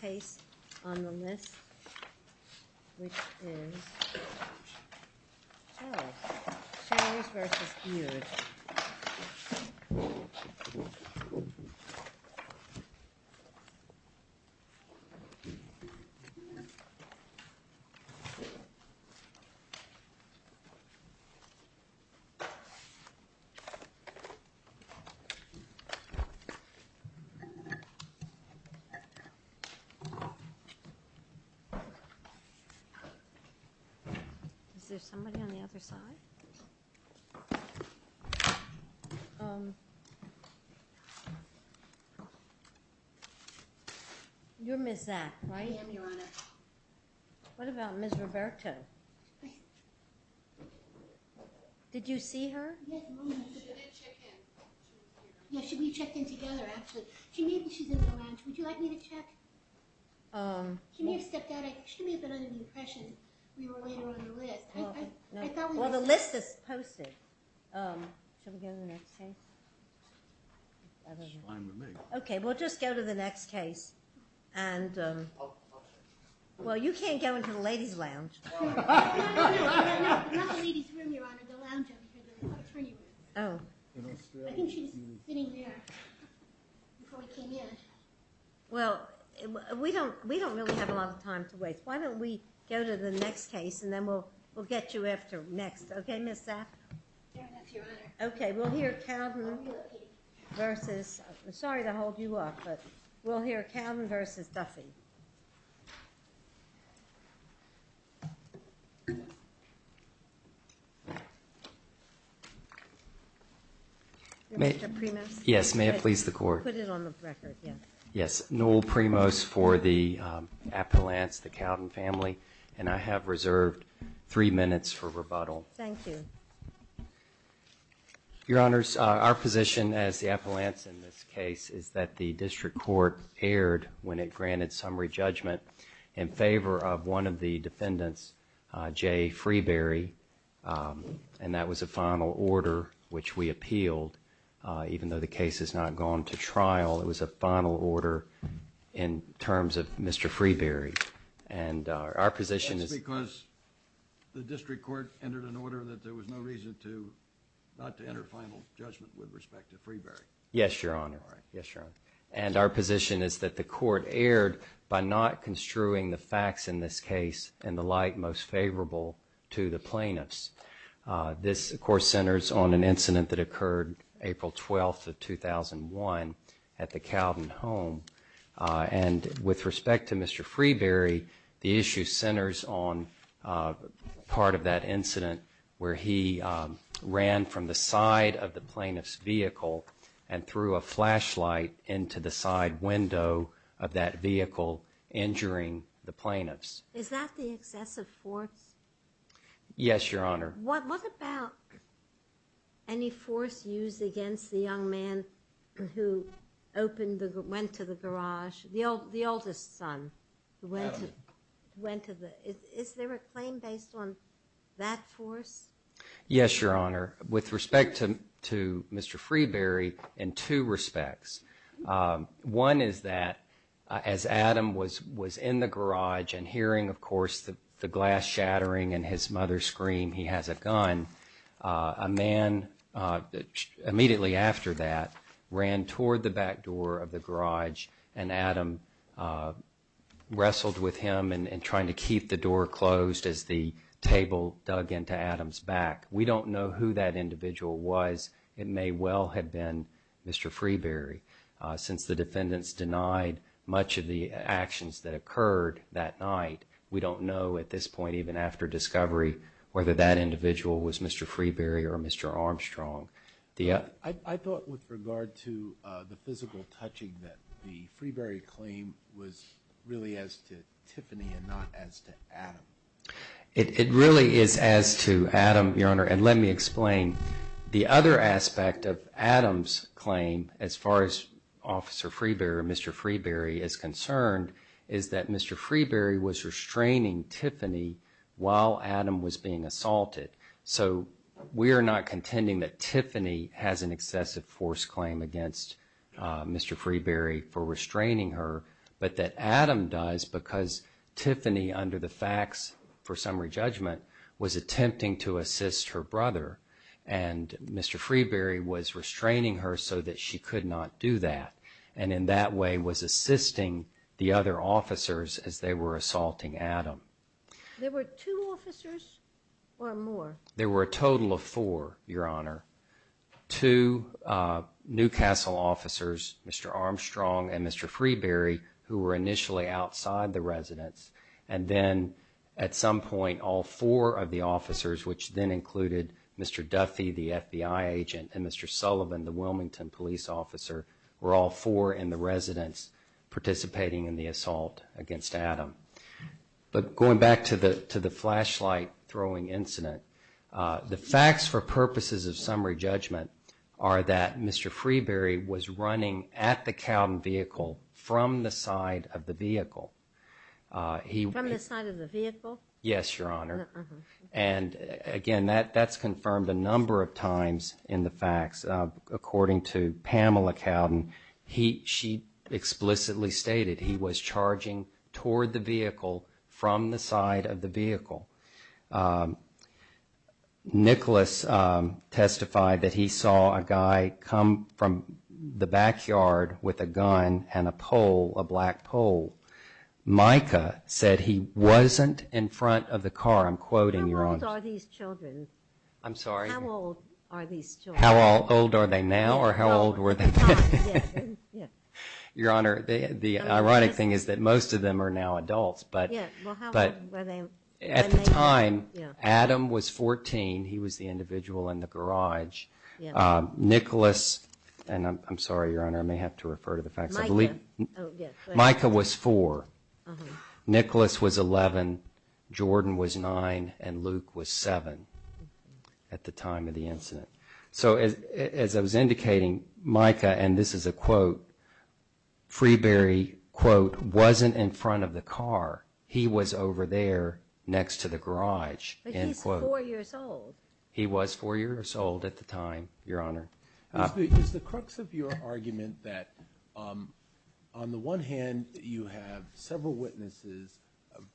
Case on the list, which is Showers v. Beard. Is there somebody on the other side? You're Ms. Zack, right? I am, Your Honor. What about Ms. Roberto? Did you see her? She did check in. She was here. Yeah, we checked in together, actually. She's in the lounge. Would you like me to check? She may have stepped out. She may have been under the impression we were later on the list. Well, the list is posted. Should we go to the next case? Fine with me. Okay, we'll just go to the next case. Well, you can't go into the ladies' lounge. No, no, no. Not the ladies' room, Your Honor. The lounge over here. Oh. I think she's sitting there. Before we came in. Well, we don't really have a lot of time to waste. Why don't we go to the next case, and then we'll get you after next. Okay, Ms. Zack? Fair enough, Your Honor. Okay, we'll hear Calden v. Duffey. Sorry to hold you up, but we'll hear Calden v. Duffey. Mr. Primos? Yes. May it please the Court? Put it on the record, yes. Yes. Noel Primos for the appellants, the Calden family, and I have reserved three minutes for rebuttal. Thank you. Your Honors, our position as the appellants in this case is that the District Court erred when it granted summary judgment in favor of one of the defendants, Jay Freeberry, and that was a final order which we appealed, even though the case has not gone to trial. It was a final order in terms of Mr. Freeberry. And our position is That's because the District Court entered an order that there was no reason to, not to enter final judgment with respect to Freeberry. Yes, Your Honor. All right. Thank you. Yes, Your Honor. And our position is that the Court erred by not construing the facts in this case in the light most favorable to the plaintiffs. This of course centers on an incident that occurred April 12th of 2001 at the Calden home, and with respect to Mr. Freeberry, the issue centers on part of that incident where he ran from the side of the plaintiff's vehicle and threw a flashlight into the side window of that vehicle, injuring the plaintiffs. Is that the excessive force? Yes, Your Honor. What about any force used against the young man who opened the, went to the garage, the oldest son who went to the, is there a claim based on that force? Yes, Your Honor. With respect to Mr. Freeberry, in two respects. One is that as Adam was in the garage and hearing of course the glass shattering and his mother's scream, he has a gun, a man immediately after that ran toward the back door of the garage and Adam wrestled with him and trying to keep the door closed as the table dug into the defendant's back. We don't know who that individual was. It may well have been Mr. Freeberry. Since the defendants denied much of the actions that occurred that night, we don't know at this point even after discovery whether that individual was Mr. Freeberry or Mr. Armstrong. I thought with regard to the physical touching that the Freeberry claim was really as to Tiffany and not as to Adam. It really is as to Adam, Your Honor, and let me explain. The other aspect of Adam's claim as far as Officer Freeberry or Mr. Freeberry is concerned is that Mr. Freeberry was restraining Tiffany while Adam was being assaulted. So we are not contending that Tiffany has an excessive force claim against Mr. Freeberry for restraining her but that Adam does because Tiffany under the facts for summary judgment was attempting to assist her brother and Mr. Freeberry was restraining her so that she could not do that and in that way was assisting the other officers as they were assaulting Adam. There were two officers or more? There were a total of four, Your Honor. Two Newcastle officers, Mr. Armstrong and Mr. Freeberry, who were initially outside the residence and then at some point all four of the officers which then included Mr. Duffy, the FBI agent, and Mr. Sullivan, the Wilmington police officer, were all four in the residence participating in the assault against Adam. But going back to the flashlight throwing incident, the facts for purposes of summary judgment are that Mr. Freeberry was running at the Cowden vehicle from the side of the vehicle. From the side of the vehicle? Yes, Your Honor. And again, that's confirmed a number of times in the facts. According to Pamela Cowden, she explicitly stated he was charging toward the vehicle from the side of the vehicle. Nicholas testified that he saw a guy come from the backyard with a gun and a pole, a black pole. Micah said he wasn't in front of the car. I'm quoting, Your Honor. How old are these children? I'm sorry? How old are these children? How old are they now or how old were they then? Your Honor, the ironic thing is that most of them are now adults. But at the time, Adam was 14. He was the individual in the garage. Nicholas, and I'm sorry, Your Honor, I may have to refer to the facts. Micah. Micah was four. Nicholas was 11. Jordan was nine. And Luke was seven at the time of the incident. So as I was indicating, Micah, and this is a quote, Freeberry, quote, wasn't in front of the car. He was over there next to the garage. But he's four years old. He was four years old at the time, Your Honor. Is the crux of your argument that on the one hand, you have several witnesses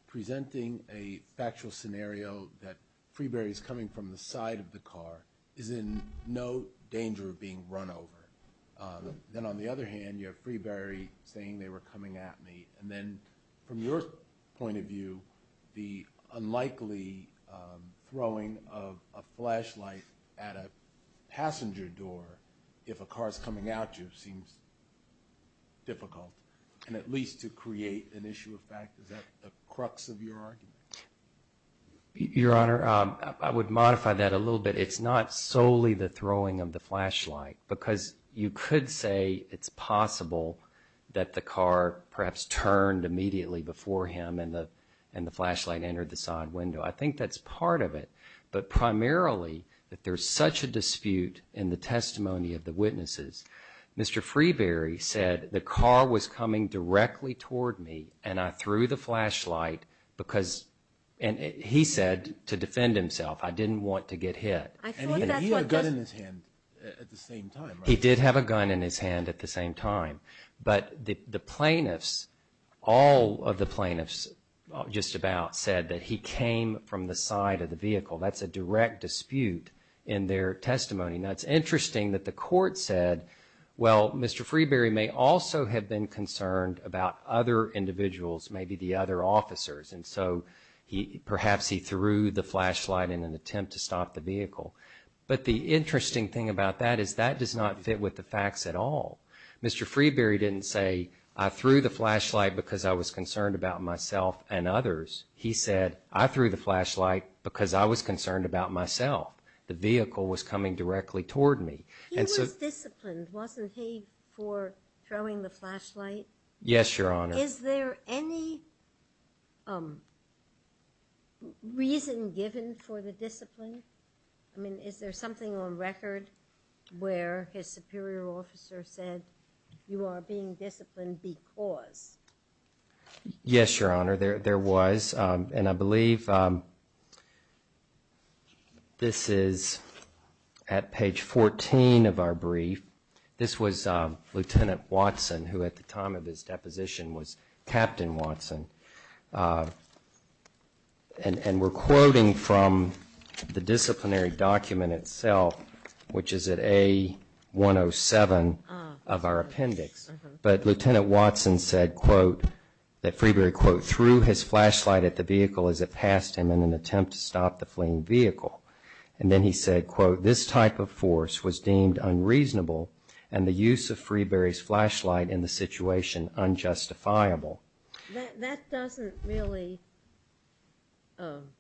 presenting a factual scenario that Freeberry's coming from the side of the car is in no danger of being run over. Then on the other hand, you have Freeberry saying, they were coming at me. And then from your point of view, the unlikely throwing of a flashlight at a passenger door if a car's coming at you seems difficult, and at least to create an issue of fact. Is that the crux of your argument? Your Honor, I would modify that a little bit. It's not solely the throwing of the flashlight, because you could say it's possible that the car perhaps turned immediately before him and the flashlight entered the side window. I think that's part of it, but primarily that there's such a dispute in the testimony of the witnesses. Mr. Freeberry said, the car was coming directly toward me and I threw the flashlight because, and he said to defend himself, I didn't want to get hit. And he had a gun in his hand at the same time, right? He did have a gun in his hand at the same time. But the plaintiffs, all of the plaintiffs just about, said that he came from the side of the vehicle. That's a direct dispute in their testimony. Now, it's interesting that the court said, well, Mr. Freeberry may also have been concerned about other individuals, maybe the other officers, and so perhaps he threw the flashlight in an attempt to stop the vehicle. But the interesting thing about that is that does not fit with the facts at all. Mr. Freeberry didn't say, I threw the flashlight because I was concerned about myself and others. He said, I threw the flashlight because I was concerned about myself. The vehicle was coming directly toward me. He was disciplined, wasn't he, for throwing the flashlight? Yes, Your Honor. Is there any reason given for the discipline? I mean, is there something on record where his superior officer said, you are being disciplined because? Yes, Your Honor, there was. And I believe this is at page 14 of our brief. This was Lieutenant Watson, who at the time of his deposition was Captain Watson. And we're quoting from the disciplinary document itself, which is at A107 of our appendix. But Lieutenant Watson said, quote, that Freeberry, quote, threw his flashlight at the vehicle as it passed him in an attempt to stop the fleeing vehicle. And then he said, quote, this type of force was deemed unreasonable and the use of Freeberry's flashlight in the situation unjustifiable. That doesn't really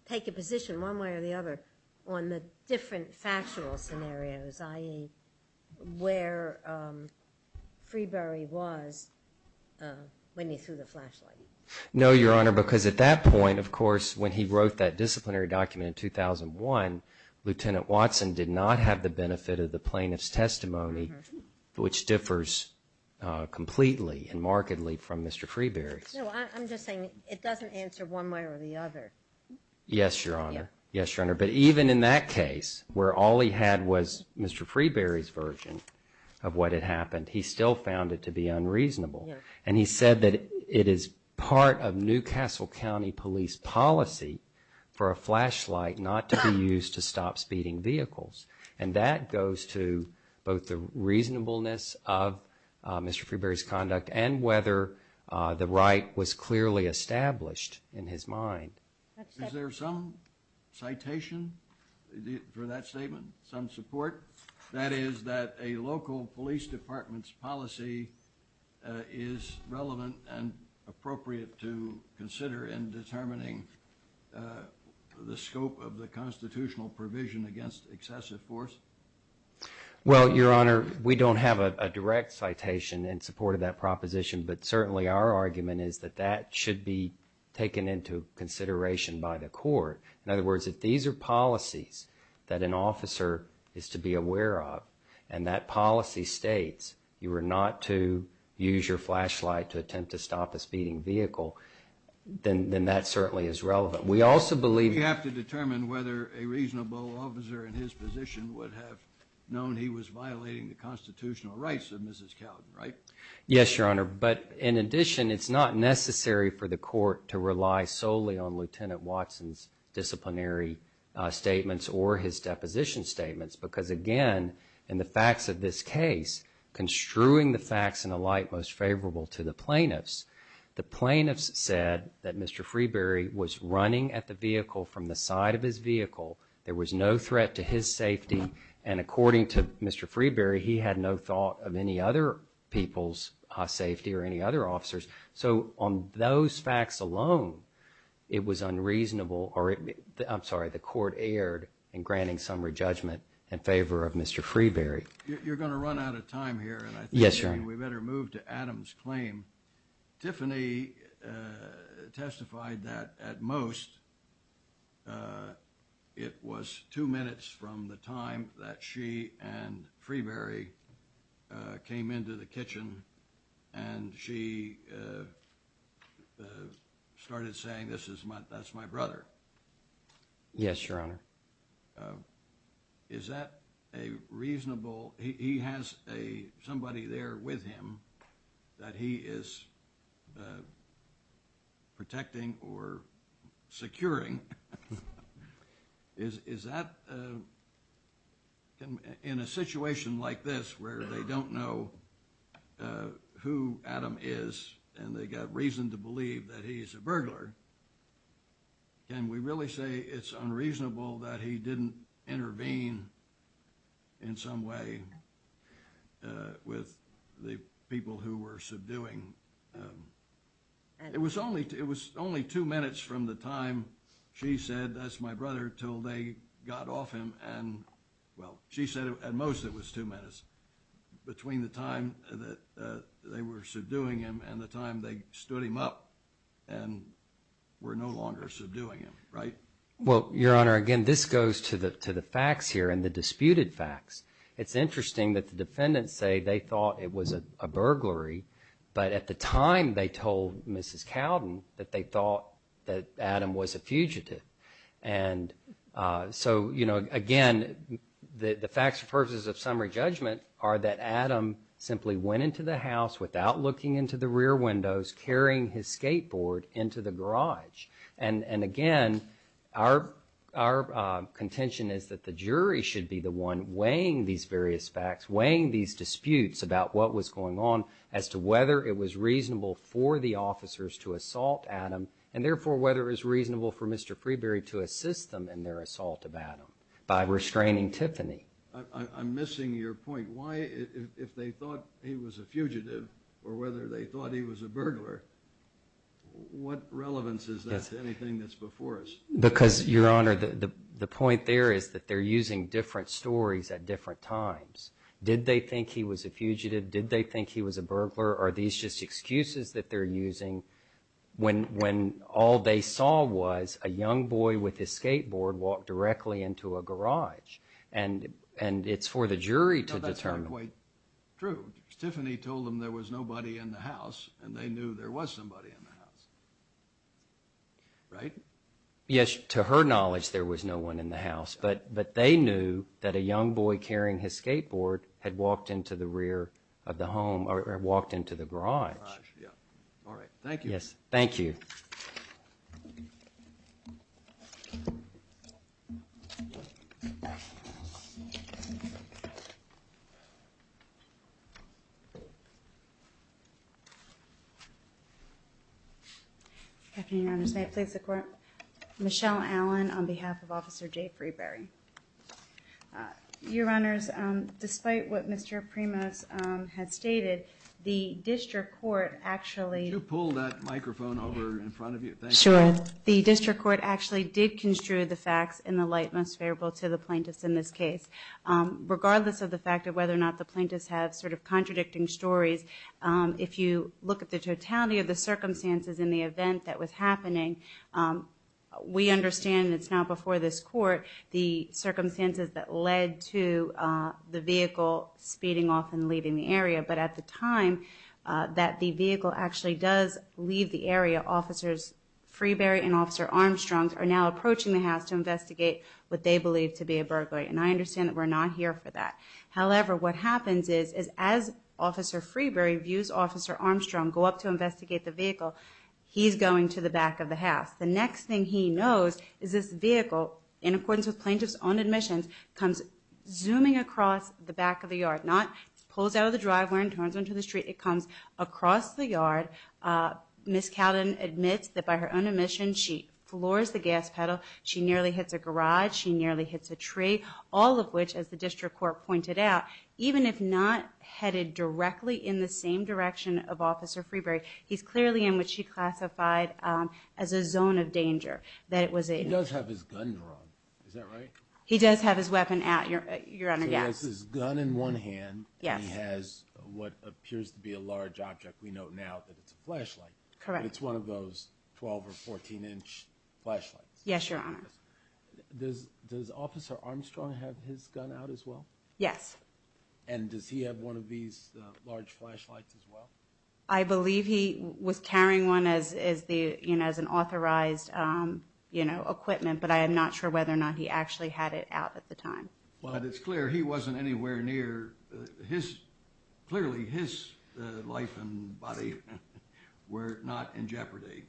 take a position one way or the other on the different factual scenarios, i.e., where Freeberry was when he threw the flashlight. No, Your Honor, because at that point, of course, when he wrote that disciplinary document in 2001, Lieutenant Watson did not have the benefit of the plaintiff's testimony, which differs completely and markedly from Mr. Freeberry's. No, I'm just saying it doesn't answer one way or the other. Yes, Your Honor. Yes, Your Honor. But even in that case, where all he had was Mr. Freeberry's version of what had happened, he still found it to be unreasonable. And he said that it is part of New Castle County police policy for a flashlight not to be used to stop speeding vehicles. And that goes to both the reasonableness of Mr. Freeberry's conduct and whether the right was clearly established in his mind. Is there some citation for that statement, some support? That is, that a local police department's policy is relevant and appropriate to consider in determining the scope of the constitutional provision against excessive force? Well, Your Honor, we don't have a direct citation in support of that proposition, but certainly our argument is that that should be taken into consideration by the court. In other words, if these are policies that an officer is to be aware of and that policy states you are not to use your flashlight to attempt to stop a speeding vehicle, then that certainly is relevant. We also believe that... We have to determine whether a reasonable officer in his position would have known he was violating the constitutional rights of Mrs. Cowden, right? Yes, Your Honor. But in addition, it's not necessary for the court to rely solely on Lieutenant Watson's disciplinary statements or his deposition statements because, again, in the facts of this case, construing the facts in a light most favorable to the plaintiffs, the plaintiffs said that Mr. Freeberry was running at the vehicle from the side of his vehicle. There was no threat to his safety, and according to Mr. Freeberry, he had no thought of any other people's safety or any other officer's. So on those facts alone, it was unreasonable or, I'm sorry, the court erred in granting summary judgment in favor of Mr. Freeberry. You're going to run out of time here. Yes, Your Honor. We better move to Adam's claim. Tiffany testified that, at most, it was two minutes from the time that she and Freeberry came into the kitchen and she started saying, that's my brother. Yes, Your Honor. Is that a reasonable, he has somebody there with him that he is protecting or securing? Is that, in a situation like this where they don't know who Adam is and they've got reason to believe that he's a burglar, can we really say it's unreasonable that he didn't intervene in some way with the people who were subduing? It was only two minutes from the time she said, that's my brother, until they got off him and, well, she said at most it was two minutes between the time that they were subduing him and the time they stood him up and were no longer subduing him, right? Well, Your Honor, again, this goes to the facts here and the disputed facts. It's interesting that the defendants say they thought it was a burglary, but at the time they told Mrs. Cowden that they thought that Adam was a fugitive. And so, you know, again, the facts and purposes of summary judgment are that Adam simply went into the house without looking into the rear windows, carrying his skateboard into the garage. And again, our contention is that the jury should be the one weighing these various facts, weighing these disputes about what was going on as to whether it was reasonable for the officers to assault Adam and therefore whether it was reasonable for Mr. Freeberry to assist them in their assault of Adam by restraining Tiffany. I'm missing your point. Why, if they thought he was a fugitive or whether they thought he was a burglar, what relevance is that to anything that's before us? Because, Your Honor, the point there is that they're using different stories at different times. Did they think he was a fugitive? Did they think he was a burglar? Are these just excuses that they're using when all they saw was a young boy with his skateboard walk directly into a garage? And it's for the jury to determine. No, that's not quite true. Tiffany told them there was nobody in the house, and they knew there was somebody in the house, right? Yes, to her knowledge, there was no one in the house, but they knew that a young boy carrying his skateboard had walked into the rear of the home or walked into the garage. All right, thank you. Yes, thank you. Afternoon, Your Honors. May it please the Court? Michelle Allen on behalf of Officer Jay Freeberry. Your Honors, despite what Mr. Primus has stated, the district court actually Could you pull that microphone over in front of you? Thank you. Sure. The district court actually did construe the facts in the light most favorable to the plaintiffs in this case, regardless of the fact of whether or not the plaintiffs have sort of contradicted stories. If you look at the totality of the circumstances in the event that was happening, we understand it's now before this court, the circumstances that led to the vehicle speeding off and leaving the area. But at the time that the vehicle actually does leave the area, Officers Freeberry and Officer Armstrong are now approaching the house to investigate what they believe to be a burglary. And I understand that we're not here for that. However, what happens is, as Officer Freeberry views Officer Armstrong go up to investigate the vehicle, he's going to the back of the house. The next thing he knows is this vehicle, in accordance with plaintiffs' own admissions, comes zooming across the back of the yard, not pulls out of the driveway and turns onto the street. It comes across the yard. Ms. Cowden admits that by her own admission, she floors the gas pedal, she nearly hits a garage, she nearly hits a tree, all of which, as the district court pointed out, even if not headed directly in the same direction of Officer Freeberry, he's clearly in what she classified as a zone of danger, that it was a... He does have his gun drawn, is that right? He does have his weapon at, Your Honor, yes. So he has his gun in one hand and he has what appears to be a large object. We know now that it's a flashlight. Correct. But it's one of those 12 or 14-inch flashlights. Yes, Your Honor. Does Officer Armstrong have his gun out as well? Yes. And does he have one of these large flashlights as well? I believe he was carrying one as an authorized equipment, but I am not sure whether or not he actually had it out at the time. But it's clear he wasn't anywhere near his... Clearly his life and body were not in jeopardy.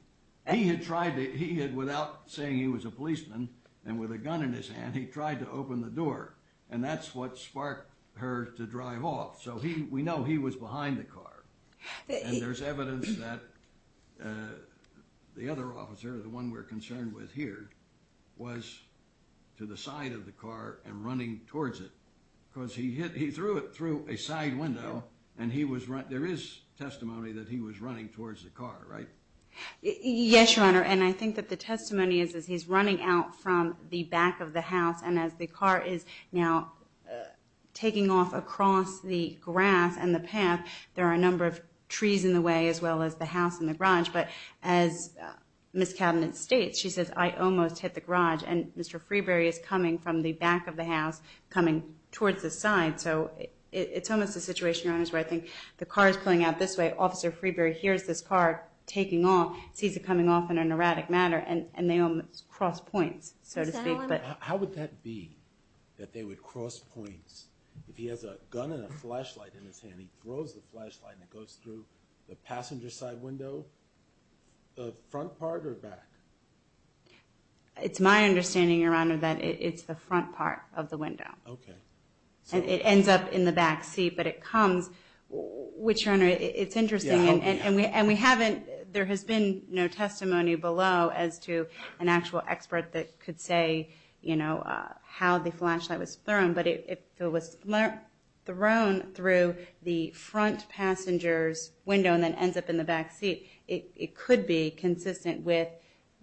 He had tried to... Without saying he was a policeman and with a gun in his hand, he tried to open the door, and that's what sparked her to drive off. So we know he was behind the car. And there's evidence that the other officer, the one we're concerned with here, was to the side of the car and running towards it because he threw it through a side window and there is testimony that he was running towards the car, right? Yes, Your Honor, and I think that the testimony is that he's running out from the back of the house, and as the car is now taking off across the grass and the path, there are a number of trees in the way as well as the house and the garage. But as Ms. Cabinet states, she says, I almost hit the garage, and Mr. Freeberry is coming from the back of the house, coming towards the side. So it's almost a situation, Your Honor, where I think the car is pulling out this way, Officer Freeberry hears this car taking off, sees it coming off in an erratic manner, and they almost cross points, so to speak. How would that be, that they would cross points? If he has a gun and a flashlight in his hand, he throws the flashlight and it goes through the passenger side window, the front part or back? It's my understanding, Your Honor, that it's the front part of the window. Okay. And it ends up in the back seat, but it comes. Which, Your Honor, it's interesting. And we haven't, there has been no testimony below as to an actual expert that could say, you know, how the flashlight was thrown. But if it was thrown through the front passenger's window and then ends up in the back seat, it could be consistent with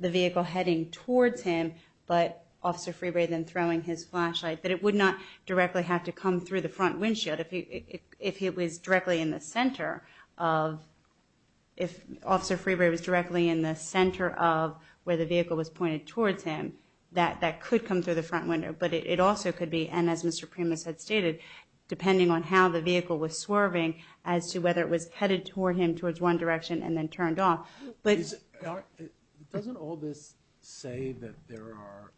the vehicle heading towards him, but Officer Freeberry then throwing his flashlight. But it would not directly have to come through the front windshield if he was directly in the center of, if Officer Freeberry was directly in the center of where the vehicle was pointed towards him, that that could come through the front window. But it also could be, and as Mr. Primus had stated, depending on how the vehicle was swerving as to whether it was headed toward him, towards one direction, and then turned off. Doesn't all this say that there are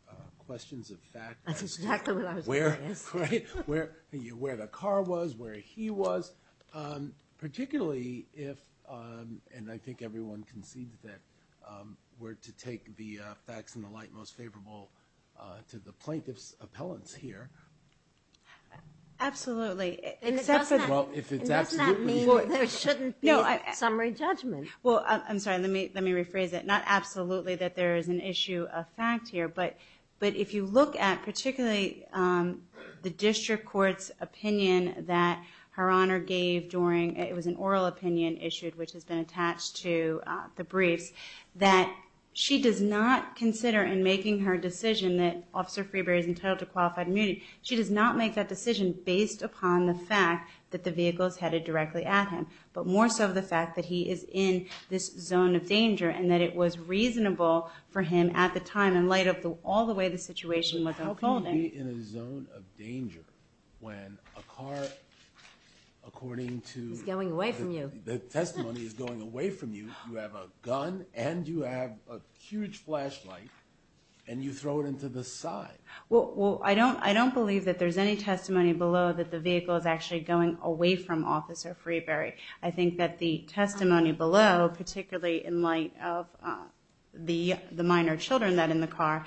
questions of fact? That's exactly what I was going to ask. Where the car was, where he was, particularly if, and I think everyone concedes that, were to take the facts in the light most favorable to the plaintiff's appellants here. Absolutely. Does that mean there shouldn't be summary judgment? Well, I'm sorry, let me rephrase it. Not absolutely that there is an issue of fact here, but if you look at particularly the district court's opinion that Her Honor gave during, it was an oral opinion issued, which has been attached to the briefs, that she does not consider in making her decision that Officer Freeberry is entitled to qualified immunity, she does not make that decision based upon the fact that the vehicle is headed directly at him, but more so the fact that he is in this zone of danger and that it was reasonable for him at the time and in light of all the way the situation was unfolding. How can you be in a zone of danger when a car, according to... Is going away from you. The testimony is going away from you. You have a gun and you have a huge flashlight and you throw it into the side. Well, I don't believe that there's any testimony below that the vehicle is actually going away from Officer Freeberry. I think that the testimony below, particularly in light of the minor children that are in the car,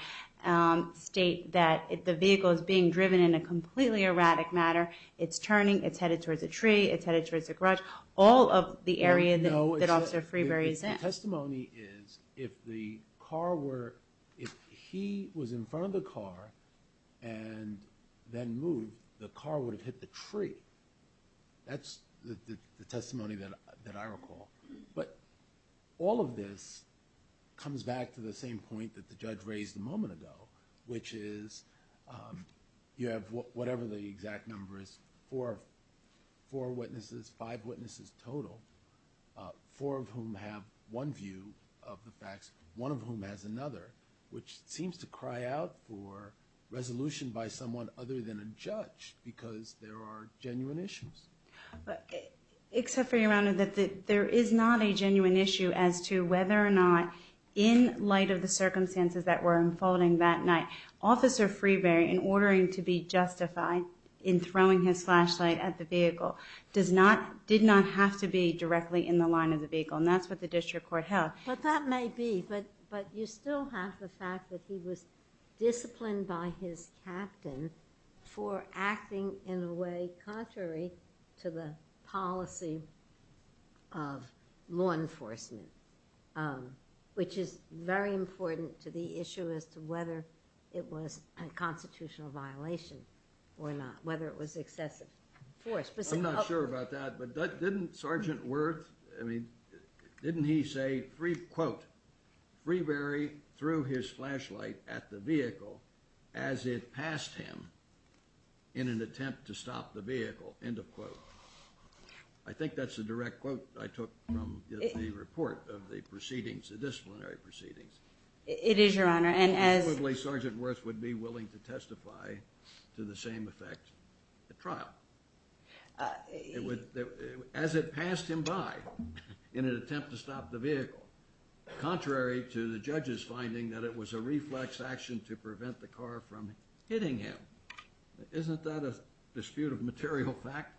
state that the vehicle is being driven in a completely erratic manner. It's turning, it's headed towards a tree, it's headed towards a garage. All of the area that Officer Freeberry is in. The testimony is if the car were... If he was in front of the car and then moved, the car would have hit the tree. That's the testimony that I recall. But all of this comes back to the same point that the judge raised a moment ago, which is you have whatever the exact number is, four witnesses, five witnesses total, four of whom have one view of the facts, one of whom has another, which seems to cry out for resolution by someone other than a judge because there are genuine issues. Except for your Honor, that there is not a genuine issue as to whether or not, in light of the circumstances that were unfolding that night, Officer Freeberry, in ordering to be justified in throwing his flashlight at the vehicle, did not have to be directly in the line of the vehicle. And that's what the district court held. But that may be, but you still have the fact that he was disciplined by his captain for acting in a way contrary to the policy of law enforcement, which is very important to the issue as to whether it was a constitutional violation or not, whether it was excessive force. I'm not sure about that, but didn't Sergeant Worth, I mean, didn't he say, quote, Freeberry threw his flashlight at the vehicle as it passed him in an attempt to stop the vehicle, end of quote. I think that's a direct quote I took from the report of the disciplinary proceedings. It is, Your Honor, and as... Presumably Sergeant Worth would be willing to testify to the same effect at trial. As it passed him by in an attempt to stop the vehicle, contrary to the judge's finding that it was a reflex action to prevent the car from hitting him. Isn't that a dispute of material fact?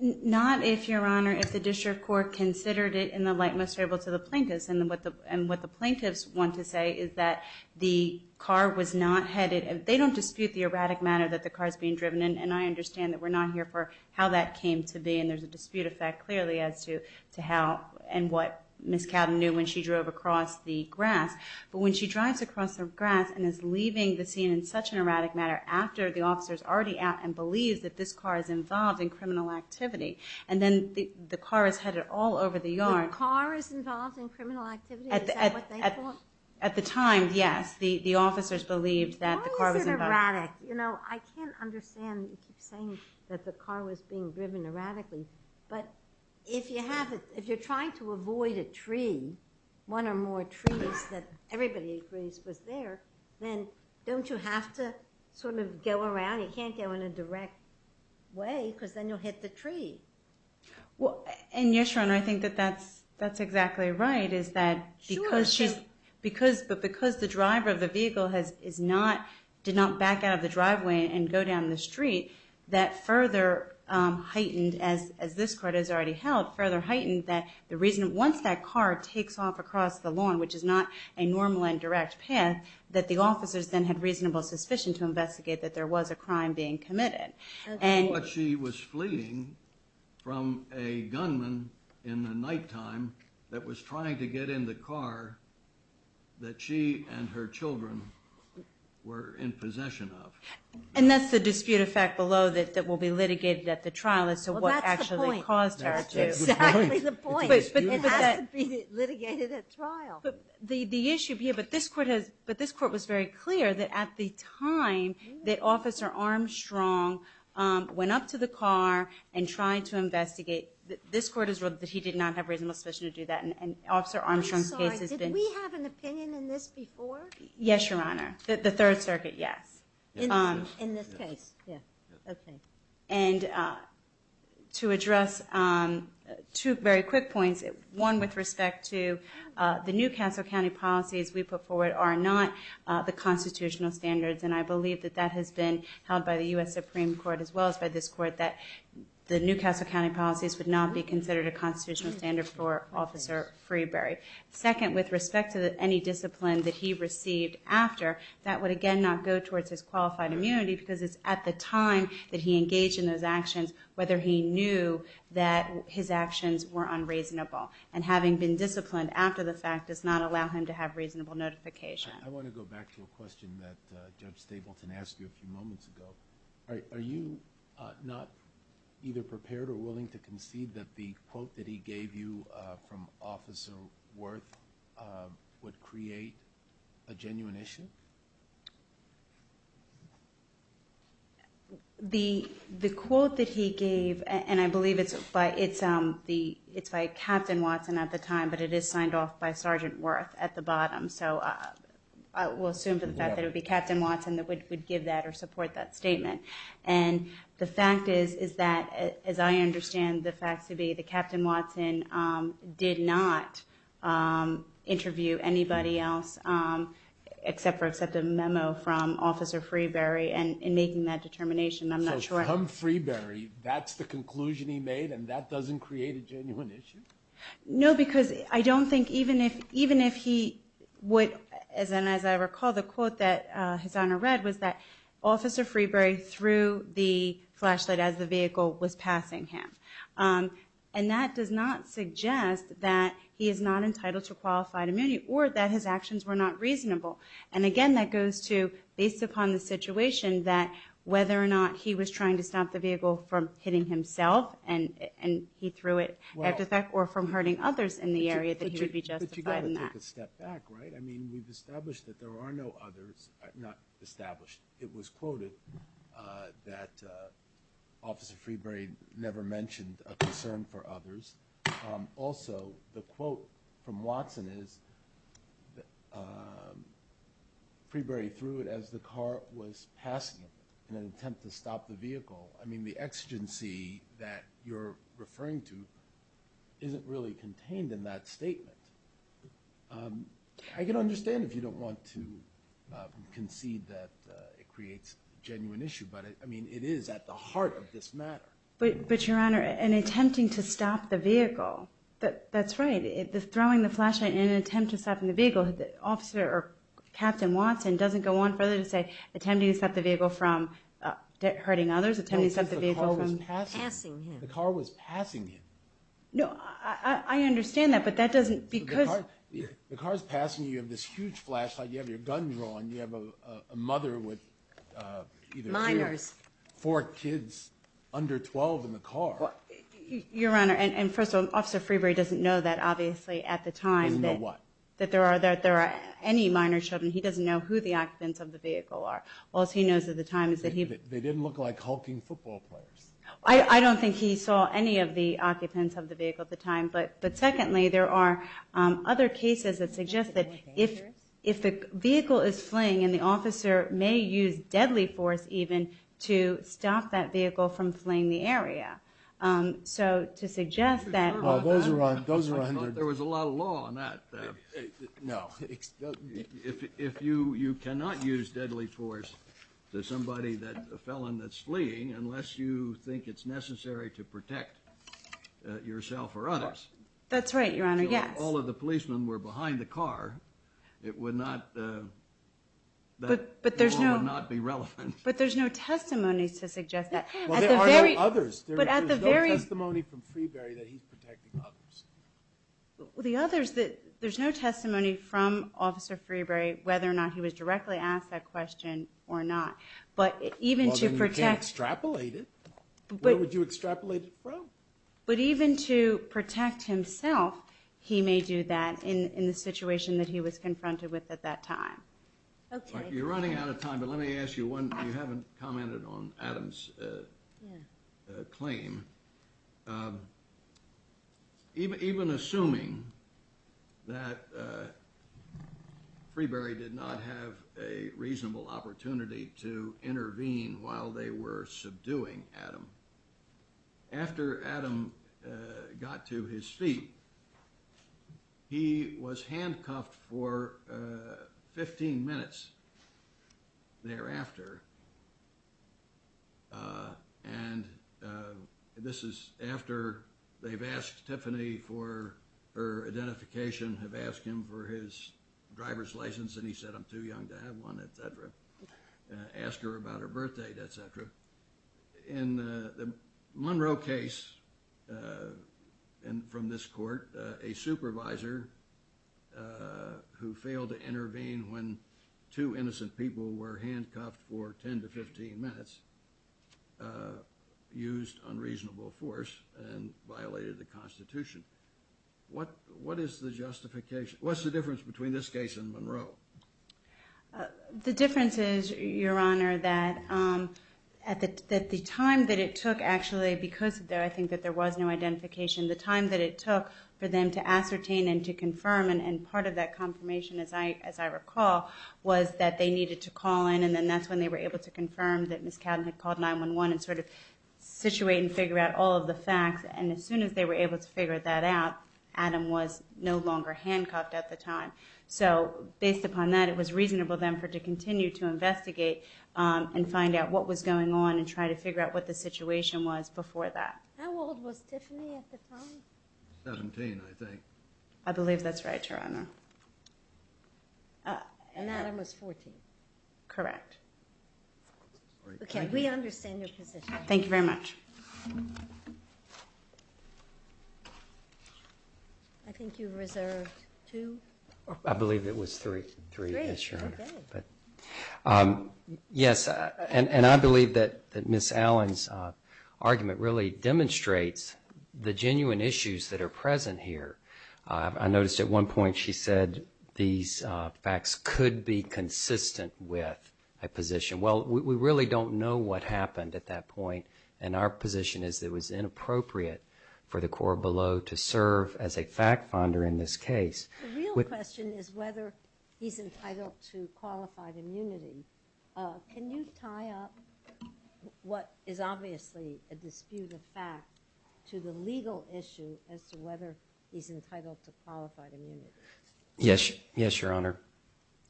Not if, Your Honor, if the district court considered it in the light most favorable to the plaintiffs. And what the plaintiffs want to say is that the car was not headed... They don't dispute the erratic manner that the car is being driven in, and I understand that we're not here for how that came to be, and there's a dispute effect clearly as to how and what Ms. Cowden knew when she drove across the grass. But when she drives across the grass and is leaving the scene in such an erratic manner after the officer's already out and believes that this car is involved in criminal activity, and then the car is headed all over the yard... The car is involved in criminal activity? Is that what they thought? At the time, yes. The officers believed that the car was involved... Why is it erratic? You know, I can't understand. You keep saying that the car was being driven erratically. But if you're trying to avoid a tree, one or more trees that everybody agrees was there, then don't you have to sort of go around? You can't go in a direct way because then you'll hit the tree. And yes, Your Honor, I think that that's exactly right, is that because the driver of the vehicle did not back out of the driveway and go down the street, that further heightened, as this court has already held, further heightened that the reason... Once that car takes off across the lawn, which is not a normal and direct path, that the officers then had reasonable suspicion to investigate that there was a crime being committed. But she was fleeing from a gunman in the nighttime that was trying to get in the car that she and her children were in possession of. And that's the dispute effect below that will be litigated at the trial as to what actually caused her to... Well, that's the point. That's exactly the point. It has to be litigated at trial. But the issue here... But this court was very clear that at the time that Officer Armstrong went up to the car and tried to investigate, this court has ruled that he did not have reasonable suspicion to do that, and Officer Armstrong's case has been... I'm sorry, did we have an opinion in this before? Yes, Your Honor. The Third Circuit, yes. In this case? Yes. Okay. And to address two very quick points, one with respect to the New Castle County policies we put forward are not the constitutional standards, and I believe that that has been held by the U.S. Supreme Court as well as by this court, that the New Castle County policies would not be considered a constitutional standard for Officer Freeberry. Second, with respect to any discipline that he received after, that would again not go towards his qualified immunity because it's at the time that he engaged in those actions whether he knew that his actions were unreasonable. And having been disciplined after the fact does not allow him to have reasonable notification. I want to go back to a question that Judge Stapleton asked you a few moments ago. Are you not either prepared or willing to concede that the quote that he gave you from Officer Wirth would create a genuine issue? The quote that he gave, and I believe it's by Captain Watson at the time, but it is signed off by Sergeant Wirth at the bottom, so we'll assume for the fact that it would be Captain Watson that would give that or support that statement. The fact is that, as I understand the facts to be, that Captain Watson did not interview anybody else except for accept a memo from Officer Freeberry in making that determination. So from Freeberry, that's the conclusion he made and that doesn't create a genuine issue? No, because I don't think even if he would, as I recall the quote that His Honor read was that Officer Freeberry threw the flashlight as the vehicle was passing him. And that does not suggest that he is not entitled to qualified immunity or that his actions were not reasonable. And again, that goes to, based upon the situation, that whether or not he was trying to stop the vehicle from hitting himself and he threw it after that or from hurting others in the area that he would be justified in that. But you've got to take a step back, right? I mean, we've established that there are no others, not established. It was quoted that Officer Freeberry never mentioned a concern for others. Also, the quote from Watson is that Freeberry threw it as the car was passing him in an attempt to stop the vehicle. I mean, the exigency that you're referring to isn't really contained in that statement. I can understand if you don't want to concede that it creates a genuine issue, but I mean, it is at the heart of this matter. But Your Honor, in attempting to stop the vehicle, that's right, throwing the flashlight in an attempt to stop the vehicle, Captain Watson doesn't go on further to say attempting to stop the vehicle from hurting others, attempting to stop the vehicle from passing him. The car was passing him. No, I understand that, but that doesn't, because... The car's passing you. You have this huge flashlight. You have your gun drawn. You have a mother with either two... Minors. Four kids under 12 in the car. Your Honor, and first of all, Officer Freeberry doesn't know that, obviously, at the time... He didn't know what? That there are any minor children. He doesn't know who the occupants of the vehicle are. All he knows at the time is that he... They didn't look like hulking football players. I don't think he saw any of the occupants of the vehicle at the time, but secondly, there are other cases that suggest that if the vehicle is fleeing and the officer may use deadly force, even, to stop that vehicle from fleeing the area. So to suggest that... Those are 100... There was a lot of law on that. No. If you cannot use deadly force to somebody, a felon that's fleeing, unless you think it's necessary to protect yourself or others... That's right, Your Honor, yes. If all of the policemen were behind the car, it would not... But there's no... That law would not be relevant. But there's no testimony to suggest that. Well, there are no others. But at the very... There's no testimony from Freeberry that he's protecting others. The others that... There's no testimony from Officer Freeberry whether or not he was directly asked that question or not. But even to protect... Well, then you can't extrapolate it. Where would you extrapolate it from? But even to protect himself, he may do that in the situation that he was confronted with at that time. Okay. You're running out of time, but let me ask you one. You haven't commented on Adam's claim. Even assuming that Freeberry did not have a reasonable opportunity to intervene while they were subduing Adam, after Adam got to his feet, he was handcuffed for 15 minutes thereafter. And this is after they've asked Tiffany for her identification, have asked him for his driver's license, and he said, I'm too young to have one, et cetera. Asked her about her birth date, et cetera. In the Monroe case from this court, a supervisor who failed to intervene when two innocent people were handcuffed for 10 to 15 minutes used unreasonable force and violated the Constitution. What is the justification? The difference is, Your Honor, that the time that it took actually, because I think that there was no identification, the time that it took for them to ascertain and to confirm, and part of that confirmation, as I recall, was that they needed to call in, and then that's when they were able to confirm that Ms. Cowden had called 911 and sort of situate and figure out all of the facts. And as soon as they were able to figure that out, Adam was no longer handcuffed at the time. So based upon that, it was reasonable then for her to continue to investigate and find out what was going on and try to figure out what the situation was before that. How old was Tiffany at the time? 17, I think. I believe that's right, Your Honor. And Adam was 14. Correct. Okay, we understand your position. Thank you very much. I think you reserved two. I believe it was three. Three, okay. Yes, and I believe that Ms. Allen's argument really demonstrates the genuine issues that are present here. I noticed at one point she said these facts could be consistent with a position. Well, we really don't know what happened at that point, and our position is that it was inappropriate for the court below to serve as a fact-finder in this case. The real question is whether he's entitled to qualified immunity. Can you tie up what is obviously a dispute of fact to the legal issue as to whether he's entitled to qualified immunity? Yes, Your Honor.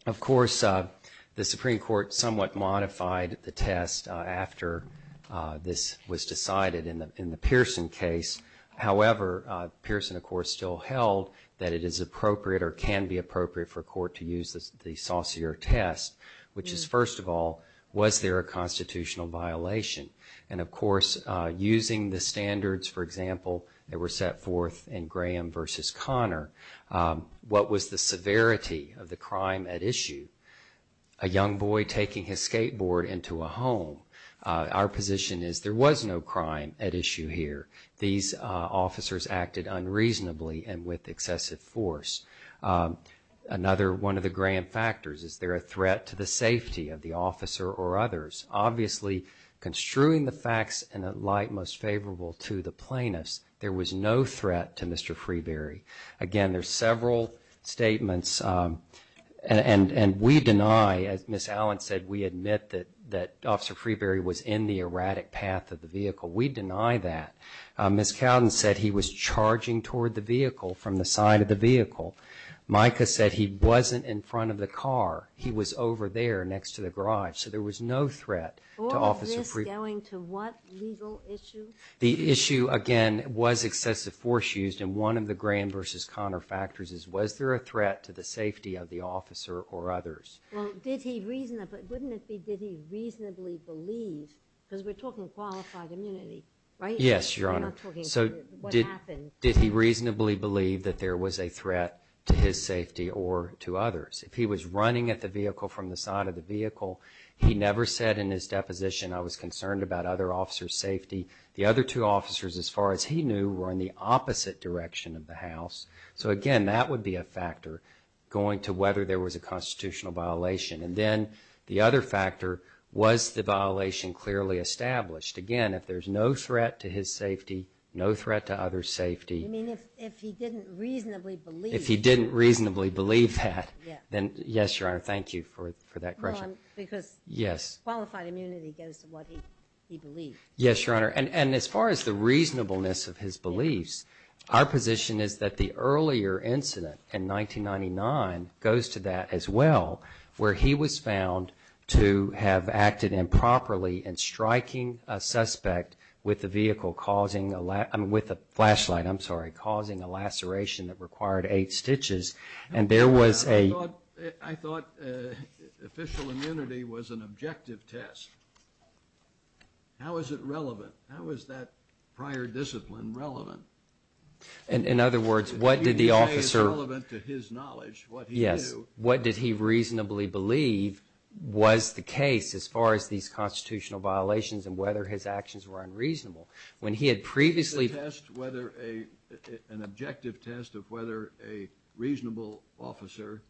Of course, the Supreme Court somewhat modified the test after this was decided in the Pearson case. However, Pearson, of course, still held that it is appropriate or can be appropriate for a court to use the saucier test, which is, first of all, was there a constitutional violation? And, of course, using the standards, for example, that were set forth in Graham v. Connor, what was the severity of the crime at issue? A young boy taking his skateboard into a home. Our position is there was no crime at issue here. These officers acted unreasonably and with excessive force. Another one of the Graham factors, is there a threat to the safety of the officer or others? Obviously, construing the facts in a light most favorable to the plaintiffs, there was no threat to Mr. Freeberry. Again, there's several statements and we deny, as Ms. Allen said, we admit that Officer Freeberry was in the erratic path of the vehicle. We deny that. Ms. Cowden said he was charging toward the vehicle from the side of the vehicle. Micah said he wasn't in front of the car. He was over there next to the garage. So there was no threat to Officer Freeberry. All of this going to what legal issue? The issue, again, was excessive force used. And one of the Graham versus Connor factors is, was there a threat to the safety of the officer or others? Well, didn't he reasonably believe, because we're talking qualified immunity, right? Yes, Your Honor. We're not talking what happened. Did he reasonably believe that there was a threat to his safety or to others? If he was running at the vehicle from the side of the vehicle, he never said in his deposition, I was concerned about other officers' safety. The other two officers, as far as he knew, were in the opposite direction of the house. So, again, that would be a factor going to whether there was a constitutional violation. And then the other factor, was the violation clearly established? Again, if there's no threat to his safety, no threat to others' safety. You mean if he didn't reasonably believe? If he didn't reasonably believe that, then yes, Your Honor. Thank you for that question. Because qualified immunity goes to what he believed. Yes, Your Honor. And as far as the reasonableness of his beliefs, our position is that the earlier incident in 1999 goes to that as well, where he was found to have acted improperly in striking a suspect with a flashlight causing a laceration that required eight stitches. And there was a... I thought official immunity was an objective test. How is it relevant? How is that prior discipline relevant? In other words, what did the officer... You say it's relevant to his knowledge, what he knew. Yes. What did he reasonably believe was the case as far as these constitutional violations and whether his actions were unreasonable? When he had previously... An objective test of whether a reasonable officer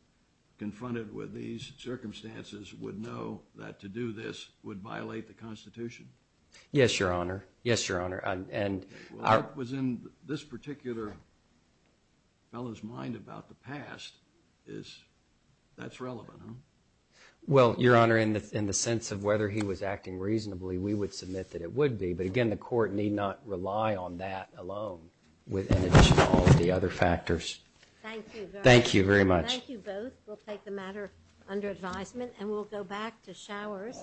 confronted with these circumstances would know that to do this would violate the Constitution. Yes, Your Honor. Yes, Your Honor. And... What was in this particular fellow's mind about the past is that's relevant, huh? Well, Your Honor, in the sense of whether he was acting reasonably, we would submit that it would be. But again, the Court need not rely on that alone with all of the other factors. Thank you very much. Thank you very much. Thank you both. We'll take the matter under advisement, and we'll go back to showers.